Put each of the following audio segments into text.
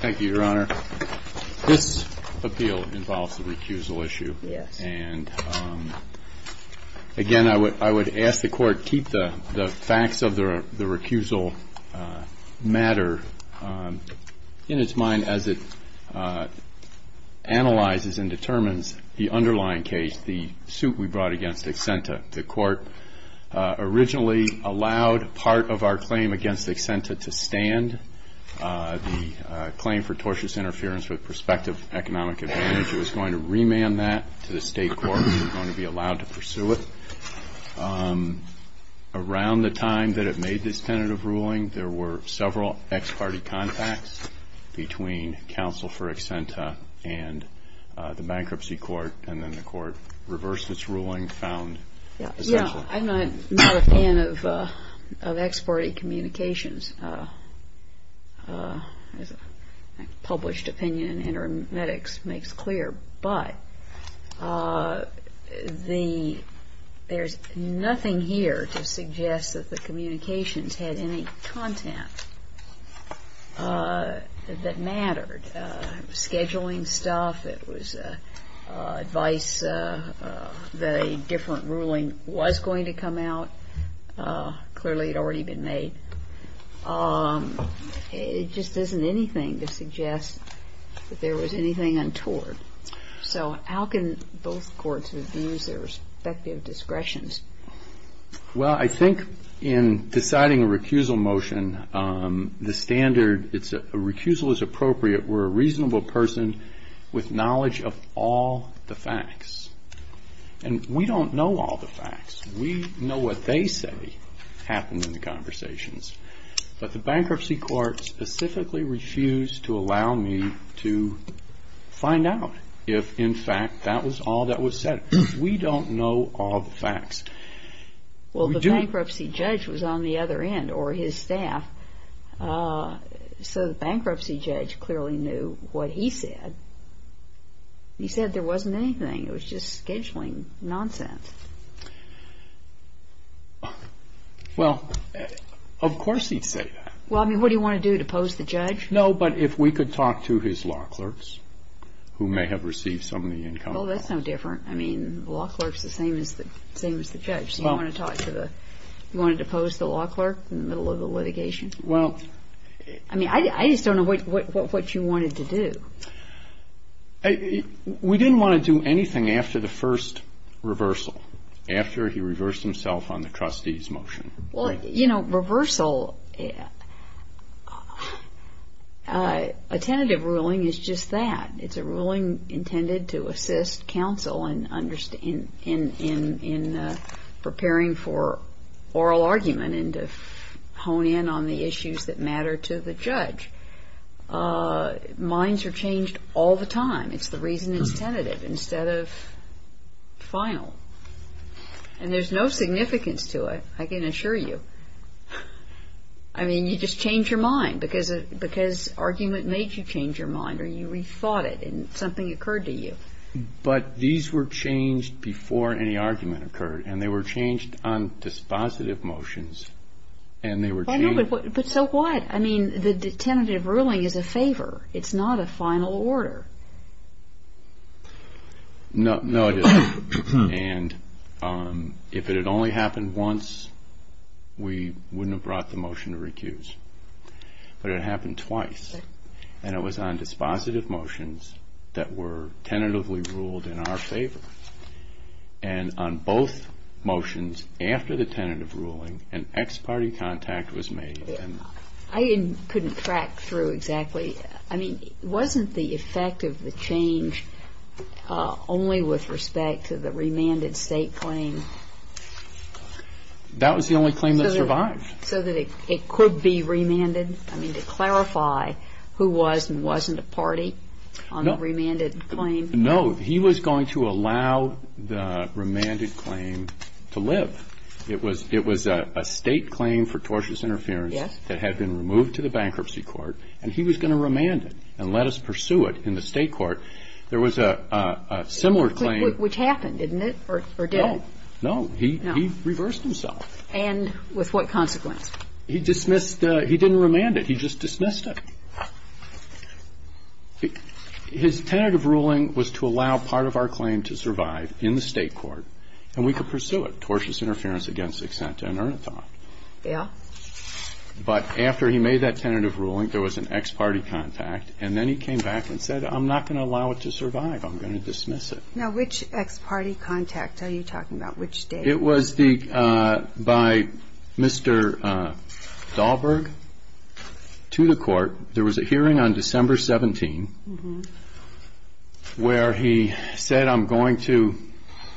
Thank you, Your Honor. This appeal involves a recusal issue, and again, I would ask the Court to keep the facts of the recusal matter in its mind as it analyzes and determines the underlying case, the suit we brought against Accenta. The Court originally allowed part of our claim against Accenta to stand. The claim for tortious interference with prospective economic advantage, it was going to remand that to the State Court. It was going to be allowed to pursue it. Around the time that it made this tentative ruling, there were several ex parte contacts between counsel for Accenta and the Bankruptcy Court, and then the Court reversed its ruling, found essential. I'm not a fan of ex parte communications. Published opinion in Interim Edicts makes clear, but there's nothing here to suggest that the communications had any content that was going to come out. Clearly, it had already been made. It just isn't anything to suggest that there was anything untoward. So how can both Courts review their respective discretions? Well, I think in deciding a recusal motion, the standard, it's a recusal is appropriate where a reasonable person with knowledge of all the facts, and we don't know all the facts. We know what they say happened in the conversations, but the Bankruptcy Court specifically refused to allow me to find out if, in fact, that was all that was said. We don't know all the facts. Well, the Bankruptcy Judge was on the other end, or his staff, so the Bankruptcy Judge clearly knew what he said. He said there wasn't anything. It was just scheduling nonsense. Well, of course he'd say that. Well, I mean, what do you want to do, depose the judge? No, but if we could talk to his law clerks, who may have received some of the income. Well, that's no different. I mean, the law clerk's the same as the judge. So you want to talk to the, you wanted to depose the law clerk in the middle of the litigation? Well... I mean, I just don't know what you wanted to do. We didn't want to do anything after the first reversal, after he reversed himself on the trustee's motion. Well, you know, reversal, a tentative ruling is just that. It's a ruling intended to assist counsel in preparing for oral argument and to hone in on the issues that matter to the case. And it's changed all the time. It's the reason it's tentative instead of final. And there's no significance to it, I can assure you. I mean, you just change your mind, because argument makes you change your mind, or you rethought it and something occurred to you. But these were changed before any argument occurred, and they were changed on dispositive motions, and they were changed... But so what? I mean, the tentative ruling is a favor. It's not a final order. No, it isn't. And if it had only happened once, we wouldn't have brought the motion to recuse. But it happened twice, and it was on dispositive motions that were tentatively made. I couldn't track through exactly. I mean, wasn't the effect of the change only with respect to the remanded state claim? That was the only claim that survived. So that it could be remanded? I mean, to clarify who was and wasn't a party on the remanded claim? No. He was going to allow the remanded claim to live. It was a state claim for tortious interference... Yes. ...that had been removed to the bankruptcy court, and he was going to remand it and let us pursue it in the state court. There was a similar claim... Which happened, didn't it? Or did it? No. No. He reversed himself. And with what consequence? He dismissed the – he didn't remand it. He just dismissed it. His tentative ruling was to allow part of our claim to survive in the state court, and we could pursue it, tortious interference against Exentia and Ernaton. Yeah. But after he made that tentative ruling, there was an ex-party contact, and then he came back and said, I'm not going to allow it to survive. I'm going to dismiss it. Now, which ex-party contact are you talking about? Which date? It was the – by Mr. Dahlberg to the court. There was a hearing on December 17... Mm-hmm. ...where he said, I'm going to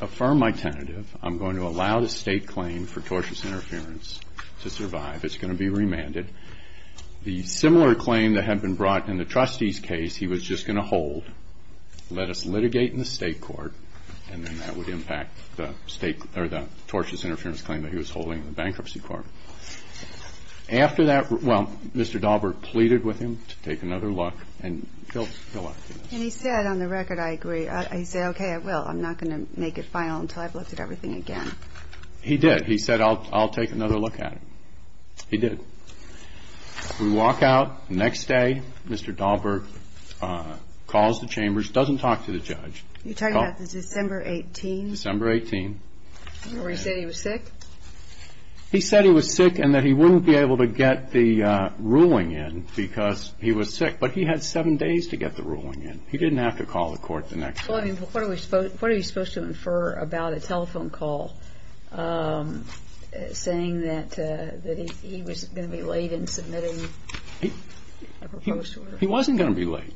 affirm my tentative. I'm going to allow the state claim for tortious interference to survive. It's going to be remanded. The similar claim that had been brought in the trustee's case, he was just going to hold, let us litigate in the state court, and then that would impact the state – or the tortious interference claim that he was holding in the bankruptcy court. After that – well, Mr. Dahlberg pleaded with him to take another look, and he'll – he'll look. And he said, on the record, I agree. He said, okay, I will. I'm not going to make it final until I've looked at everything again. He did. He said, I'll take another look at it. He did. We walk out. Next day, Mr. Dahlberg calls the chambers. Doesn't talk to the judge. You're talking about the December 18th? December 18th. Where he said he was sick? He said he was sick and that he wouldn't be able to get the ruling in because he was sick. But he had seven days to get the ruling in. He didn't have to call the court the next day. Well, I mean, what are we – what are you supposed to infer about a telephone call saying that – that he was going to be late in submitting a proposed order? He wasn't going to be late.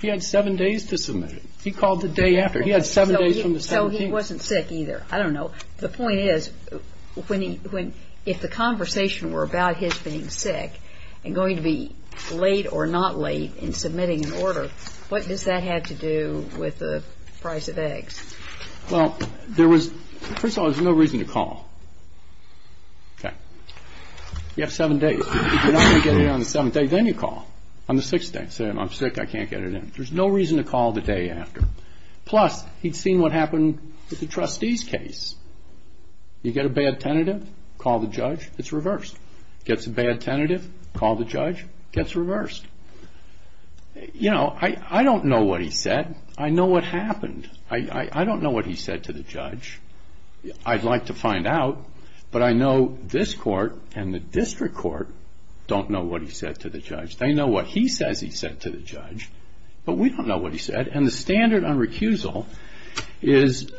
He had seven days to submit it. He called the day after. He had seven days from the 17th. He wasn't sick either. I don't know. The point is, when he – if the conversation were about his being sick and going to be late or not late in submitting an order, what does that have to do with the price of eggs? Well, there was – first of all, there's no reason to call. Okay. You have seven days. If you're not going to get it on the seventh day, then you call on the sixth day and say, I'm sick. I can't get it in. There's no reason to call the day after. Plus, he'd seen what happened with the trustees' case. You get a bad tentative, call the judge, it's reversed. Gets a bad tentative, call the judge, gets reversed. You know, I don't know what he said. I know what happened. I don't know what he said to the judge. I'd like to find out, but I know this court and the district court don't know what he said to the judge. They know what he says he said to the judge, but we don't know what he said. And the standard on recusal is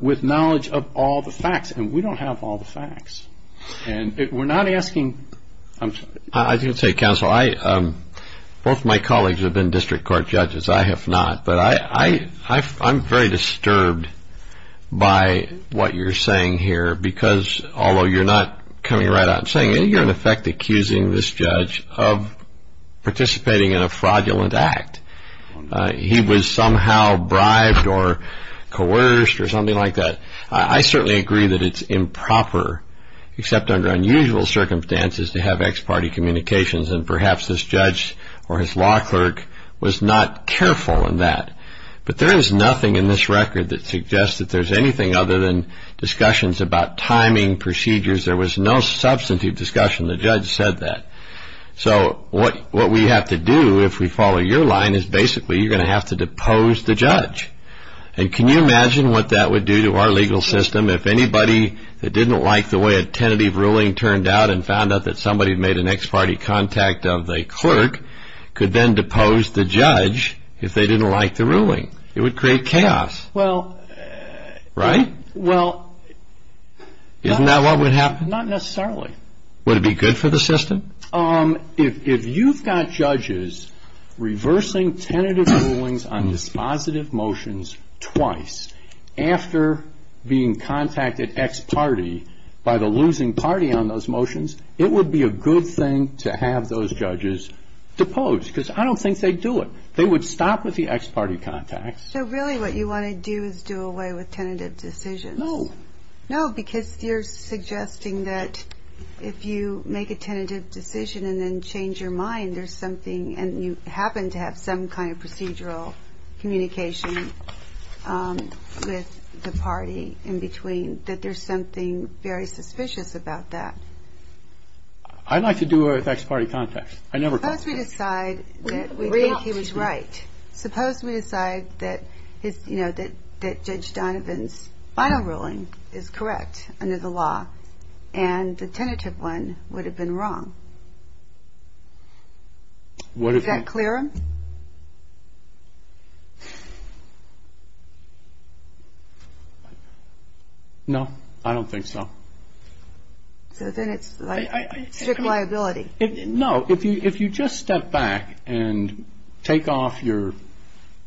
with knowledge of all the facts, and we don't have all the facts. And we're not asking – I'm sorry. I was going to say, counsel, I – both my colleagues have been district court judges. I have not. But I'm very disturbed by what you're saying here, because although you're not coming right out and saying it, you're in effect accusing this judge of participating in a fraudulent act. He was somehow bribed or coerced or something like that. I certainly agree that it's improper, except under unusual circumstances, to have ex parte communications, and perhaps this judge or his law clerk was not careful in that. But there is nothing in this record that suggests that there's anything other than that the judge said that. So what we have to do, if we follow your line, is basically you're going to have to depose the judge. And can you imagine what that would do to our legal system if anybody that didn't like the way a tentative ruling turned out and found out that somebody made an ex parte contact of the clerk could then depose the judge if they didn't like the ruling? It would create chaos. Well – Right? Well – Isn't that what would happen? Not necessarily. Would it be good for the system? If you've got judges reversing tentative rulings on dispositive motions twice after being contacted ex parte by the losing party on those motions, it would be a good thing to have those judges depose, because I don't think they'd do it. They would stop with the ex parte contact. So really what you want to do is do away with tentative decisions? No. No, because you're suggesting that if you make a tentative decision and then change your mind, there's something – and you happen to have some kind of procedural communication with the party in between – that there's something very suspicious about that. I'd like to do away with ex parte contacts. I never – Suppose we decide that we think he was right. Suppose we decide that, you under the law, and the tentative one would have been wrong. Would it be – Is that clearer? No. I don't think so. So then it's like strict liability. No. If you just step back and take off your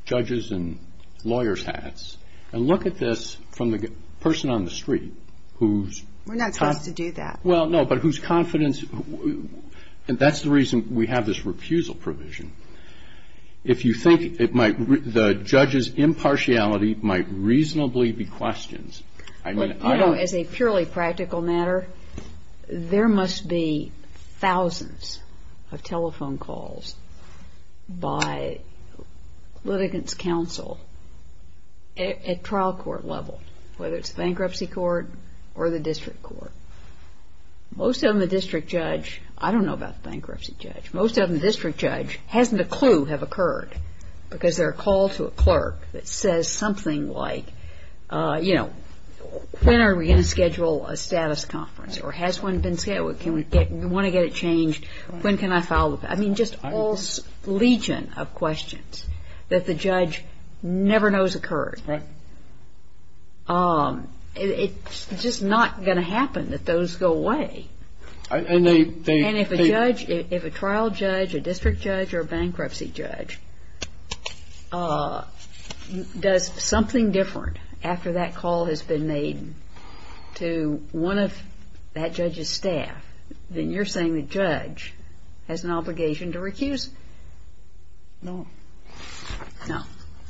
judges and lawyers hats and look at this from the person on the street whose – We're not supposed to do that. Well, no, but whose confidence – and that's the reason we have this refusal provision. If you think it might – the judge's impartiality might reasonably be questioned, I mean – You know, as a purely practical matter, there must be thousands of telephone calls by litigants' counsel at trial court level, whether it's bankruptcy court or the district court. Most of them, the district judge – I don't know about the bankruptcy judge. Most of them, the district judge hasn't a clue have occurred, because they're a call to a clerk that says something like, you know, when are we going to schedule a status conference, or has one been scheduled, do we want to get it changed, when can I file the – I mean, just all legion of questions that the judge never knows occurred. Right. It's just not going to happen that those go away. And they – And if a judge – if a trial judge, a district judge, or a bankruptcy judge does something different after that call has been made to one of that judge's staff, then you're saying the judge has an obligation to recuse. No. No.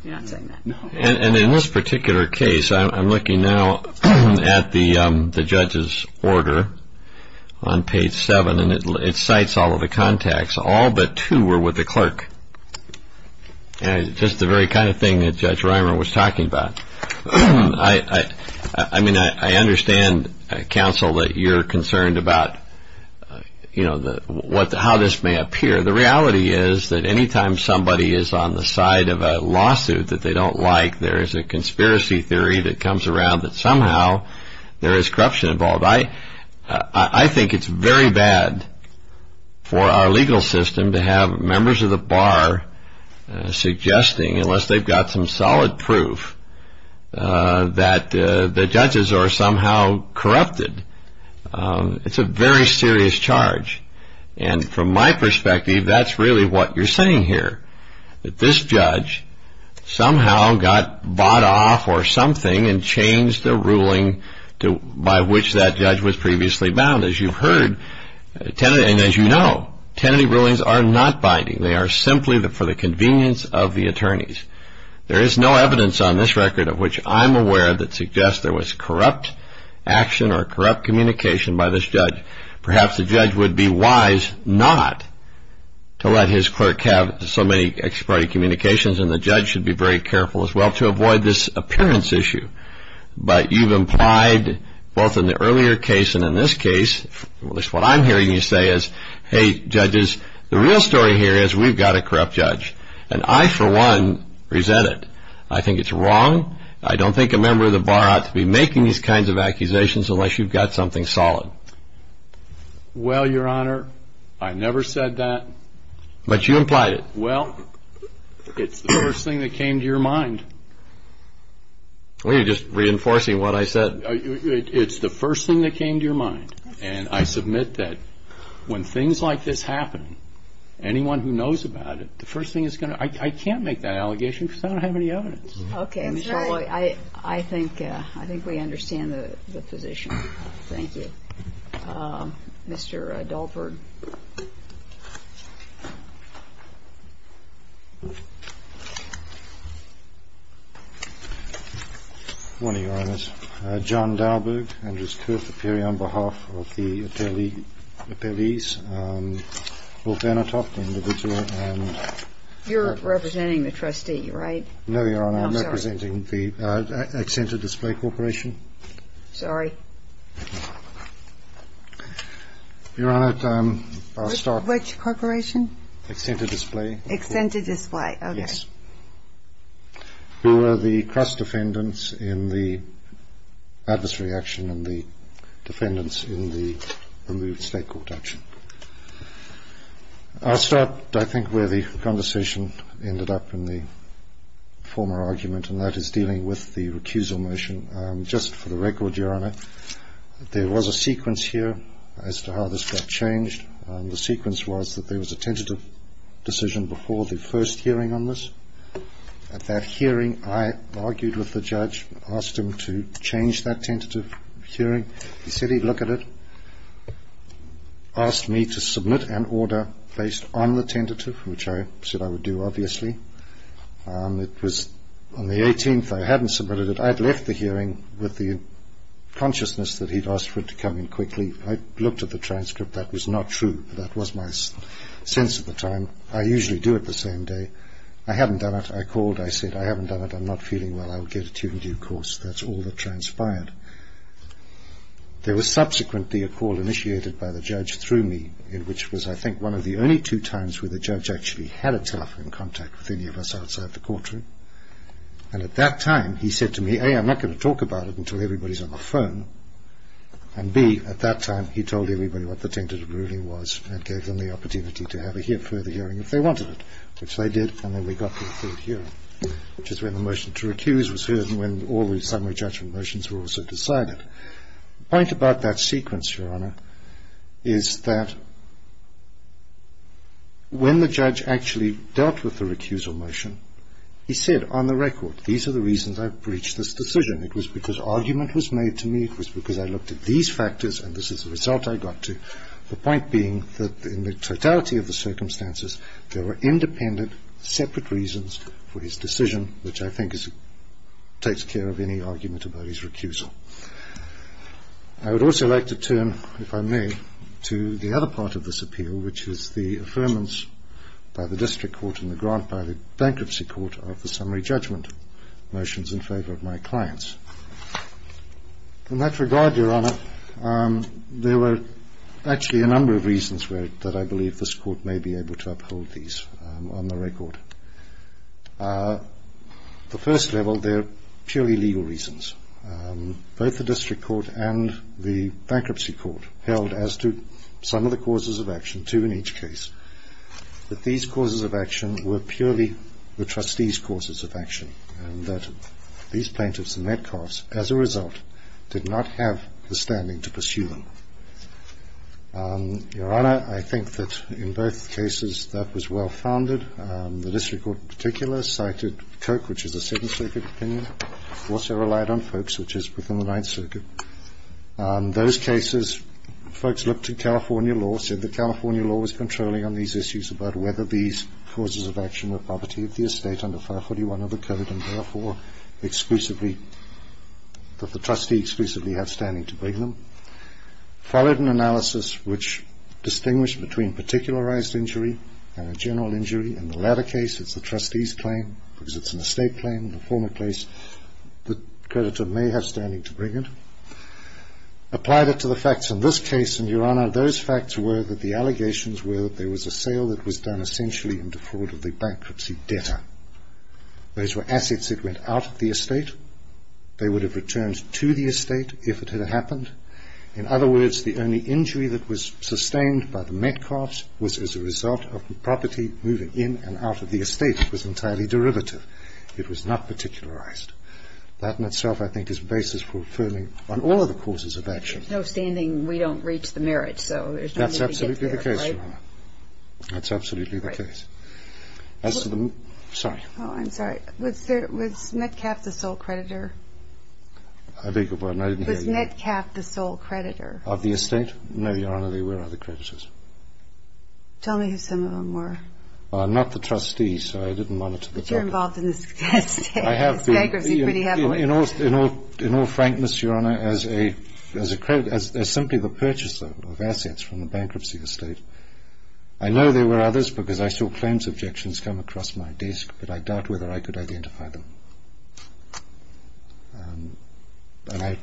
You're not saying that. No. And in this particular case, I'm looking now at the judge's order on page 7, and it cites all of the contacts. All but two were with the clerk. Just the very kind of thing that Judge Reimer was talking about. I mean, I understand, counsel, that you're concerned about, you know, how this may appear. The reality is that any time somebody is on the side of a lawsuit that they don't like, there is a conspiracy theory that comes around that somehow there is corruption involved. I think it's very bad for our legal system to have members of the bar suggesting, unless they've got some solid proof, that the judges are somehow corrupted. It's a very serious charge. And from my perspective, that's really what you're saying here, that this judge somehow got bought off or something and changed the ruling by which that judge was previously bound. As you've heard, and as you know, tenancy rulings are not binding. They are simply for the convenience of the attorneys. There is no evidence on this record of which I'm aware that suggests there was corrupt action or corrupt communication by this judge. Perhaps the judge would be wise not to let his clerk have so many expiry communications, and the judge should be very careful as well to avoid this appearance issue. But you've implied, both in the earlier case and in this case, at least what I'm hearing you say is, hey, judges, the real story here is we've got a corrupt judge. And I, for one, resent it. I think it's wrong. I don't think a member of the bar ought to be making these kinds of accusations unless you've got something solid. Well, Your Honor, I never said that. But you implied it. Well, it's the first thing that came to your mind. Well, you're just reinforcing what I said. It's the first thing that came to your mind. And I submit that when things like this happen, anyone who knows about it, the first thing is going to – I can't make that allegation because I don't have any evidence. Okay, Mr. Alloy, I think we understand the position. Thank you. Mr. Dahlberg. Good morning, Your Honor. John Dahlberg, Andrews Court Superior on behalf of the appellees. Both Benitoff, the individual, and – You're representing the trustee, right? No, Your Honor. I'm representing the Accenture Display Corporation. Sorry. Your Honor, I'll start – Which corporation? Accenture Display. Accenture Display. Yes. Okay. Who are the trust defendants in the adversary action and the defendants in the removed state court action. I'll start, I think, where the conversation ended up in the former argument, and that is dealing with the recusal motion. Just for the record, Your Honor, there was a sequence here as to how this got changed. The sequence was that there was a tentative decision before the first hearing on this. At that hearing, I argued with the judge, asked him to change that tentative hearing. He said he'd look at it, asked me to submit an order based on the tentative, which I said I would do, obviously. It was on the 18th. I hadn't submitted it. I'd left the hearing with the consciousness that he'd asked for it to come in quickly. I looked at the transcript. That was not true. That was my sense at the time. I usually do it the same day. I hadn't done it. I called. I said, I haven't done it. I'm not feeling well. I'll get it to you in due course. That's all that transpired. There was subsequently a call initiated by the judge through me, which was I think one of the only two times where the judge actually had a telephone contact with any of us outside the courtroom. And at that time, he said to me, A, I'm not going to talk about it until everybody's on the phone, and B, at that time, he told everybody what the tentative ruling was and gave them the opportunity to have a further hearing if they wanted it, which they did, and then we got to the third hearing, which is when the motion to recuse was heard and when all the summary judgment motions were also decided. The point about that sequence, Your Honor, is that when the judge actually dealt with the recusal motion, he said on the record, these are the reasons I've breached this decision. It was because argument was made to me. It was because I looked at these factors, and this is the result I got to, the point being that in the totality of the circumstances, there were independent, separate reasons for his decision, which I think takes care of any argument about his recusal. I would also like to turn, if I may, to the other part of this appeal, which is the affirmance by the district court and the grant by the bankruptcy court of the summary judgment motions in favor of my clients. In that regard, Your Honor, there were actually a number of reasons that I believe this court may be able to uphold these on the record. The first level, they're purely legal reasons. Both the district court and the bankruptcy court held as to some of the causes of action, two in each case, that these causes of action were purely the trustees' causes of action and that these plaintiffs and Metcalfs, as a result, did not have the standing to pursue them. Your Honor, I think that in both cases that was well-founded. The district court in particular cited Koch, which is a Second Circuit opinion. It also relied on folks, which is within the Ninth Circuit. Those cases, folks looked at California law, said that California law was controlling on these issues about whether these causes of action were poverty of the estate under 541 of the Code and, therefore, that the trustee exclusively had standing to bring them. Followed an analysis which distinguished between particularized injury and a general injury. In the latter case, it's the trustees' claim because it's an estate claim, the former case, the creditor may have standing to bring it. Applied it to the facts in this case, and, Your Honor, those facts were that the allegations were that there was a sale that was done essentially in defraud of the bankruptcy debtor. Those were assets that went out of the estate. They would have returned to the estate if it had happened. In other words, the only injury that was sustained by the Metcalfs was as a result of the property moving in and out of the estate. It was entirely derivative. It was not particularized. That in itself, I think, is basis for affirming on all of the causes of action. With no standing, we don't reach the merits, so there's no need to get there, right? That's absolutely the case, Your Honor. That's absolutely the case. As to the Metcalfs, sorry. Oh, I'm sorry. Was Metcalf the sole creditor? I beg your pardon? I didn't hear you. Was Metcalf the sole creditor? Of the estate? No, Your Honor, there were other creditors. Tell me who some of them were. Well, I'm not the trustee, so I didn't monitor the fact. But you're involved in this bankruptcy pretty heavily. In all frankness, Your Honor, as simply the purchaser of assets from the bankruptcy estate, I know there were others because I saw claims objections come across my desk, but I doubt whether I could identify them. And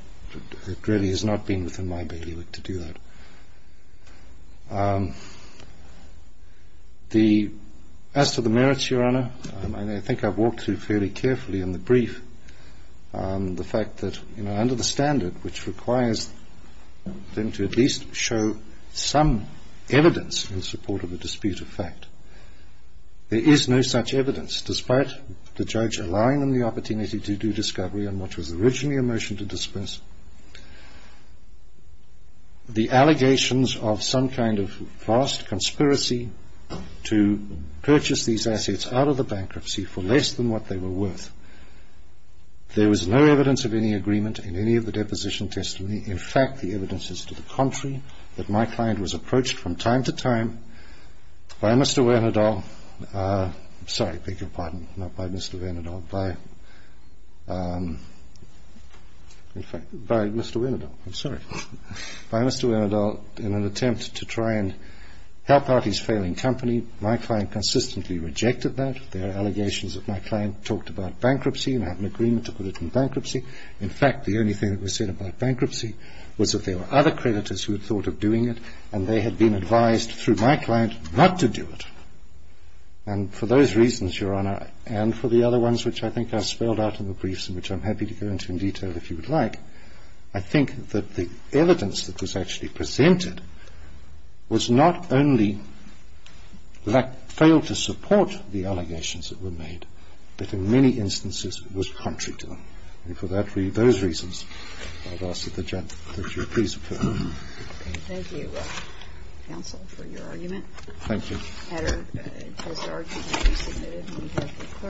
it really has not been within my bailiwick to do that. As to the merits, Your Honor, I think I've walked through fairly carefully in the brief the fact that under the standard, which requires them to at least show some evidence in support of a dispute of fact, there is no such evidence despite the judge allowing them the opportunity to do discovery on what was originally a motion to disperse the allegations of some kind of vast conspiracy to purchase these assets out of the bankruptcy for less than what they were worth. There was no evidence of any agreement in any of the deposition testimony. In fact, the evidence is to the contrary, that my client was approached from time to time by Mr. Wernerdahl. I'm sorry. I beg your pardon. Not by Mr. Wernerdahl, by Mr. Wernerdahl. I'm sorry. By Mr. Wernerdahl in an attempt to try and help out his failing company. My client consistently rejected that. There are allegations that my client talked about bankruptcy and had an agreement to put it in bankruptcy. In fact, the only thing that was said about bankruptcy was that there were other creditors who had thought of doing it and they had been advised through my client not to do it. And for those reasons, Your Honor, and for the other ones which I think are spelled out in the briefs and which I'm happy to go into in detail if you would like, I think that the evidence that was actually presented was not only failed to support the allegations that were made, but in many instances was contrary to them. And for those reasons, I've asked that you please put it in. Okay. Thank you, counsel, for your argument. Thank you. That argument has been submitted. We have the clerk.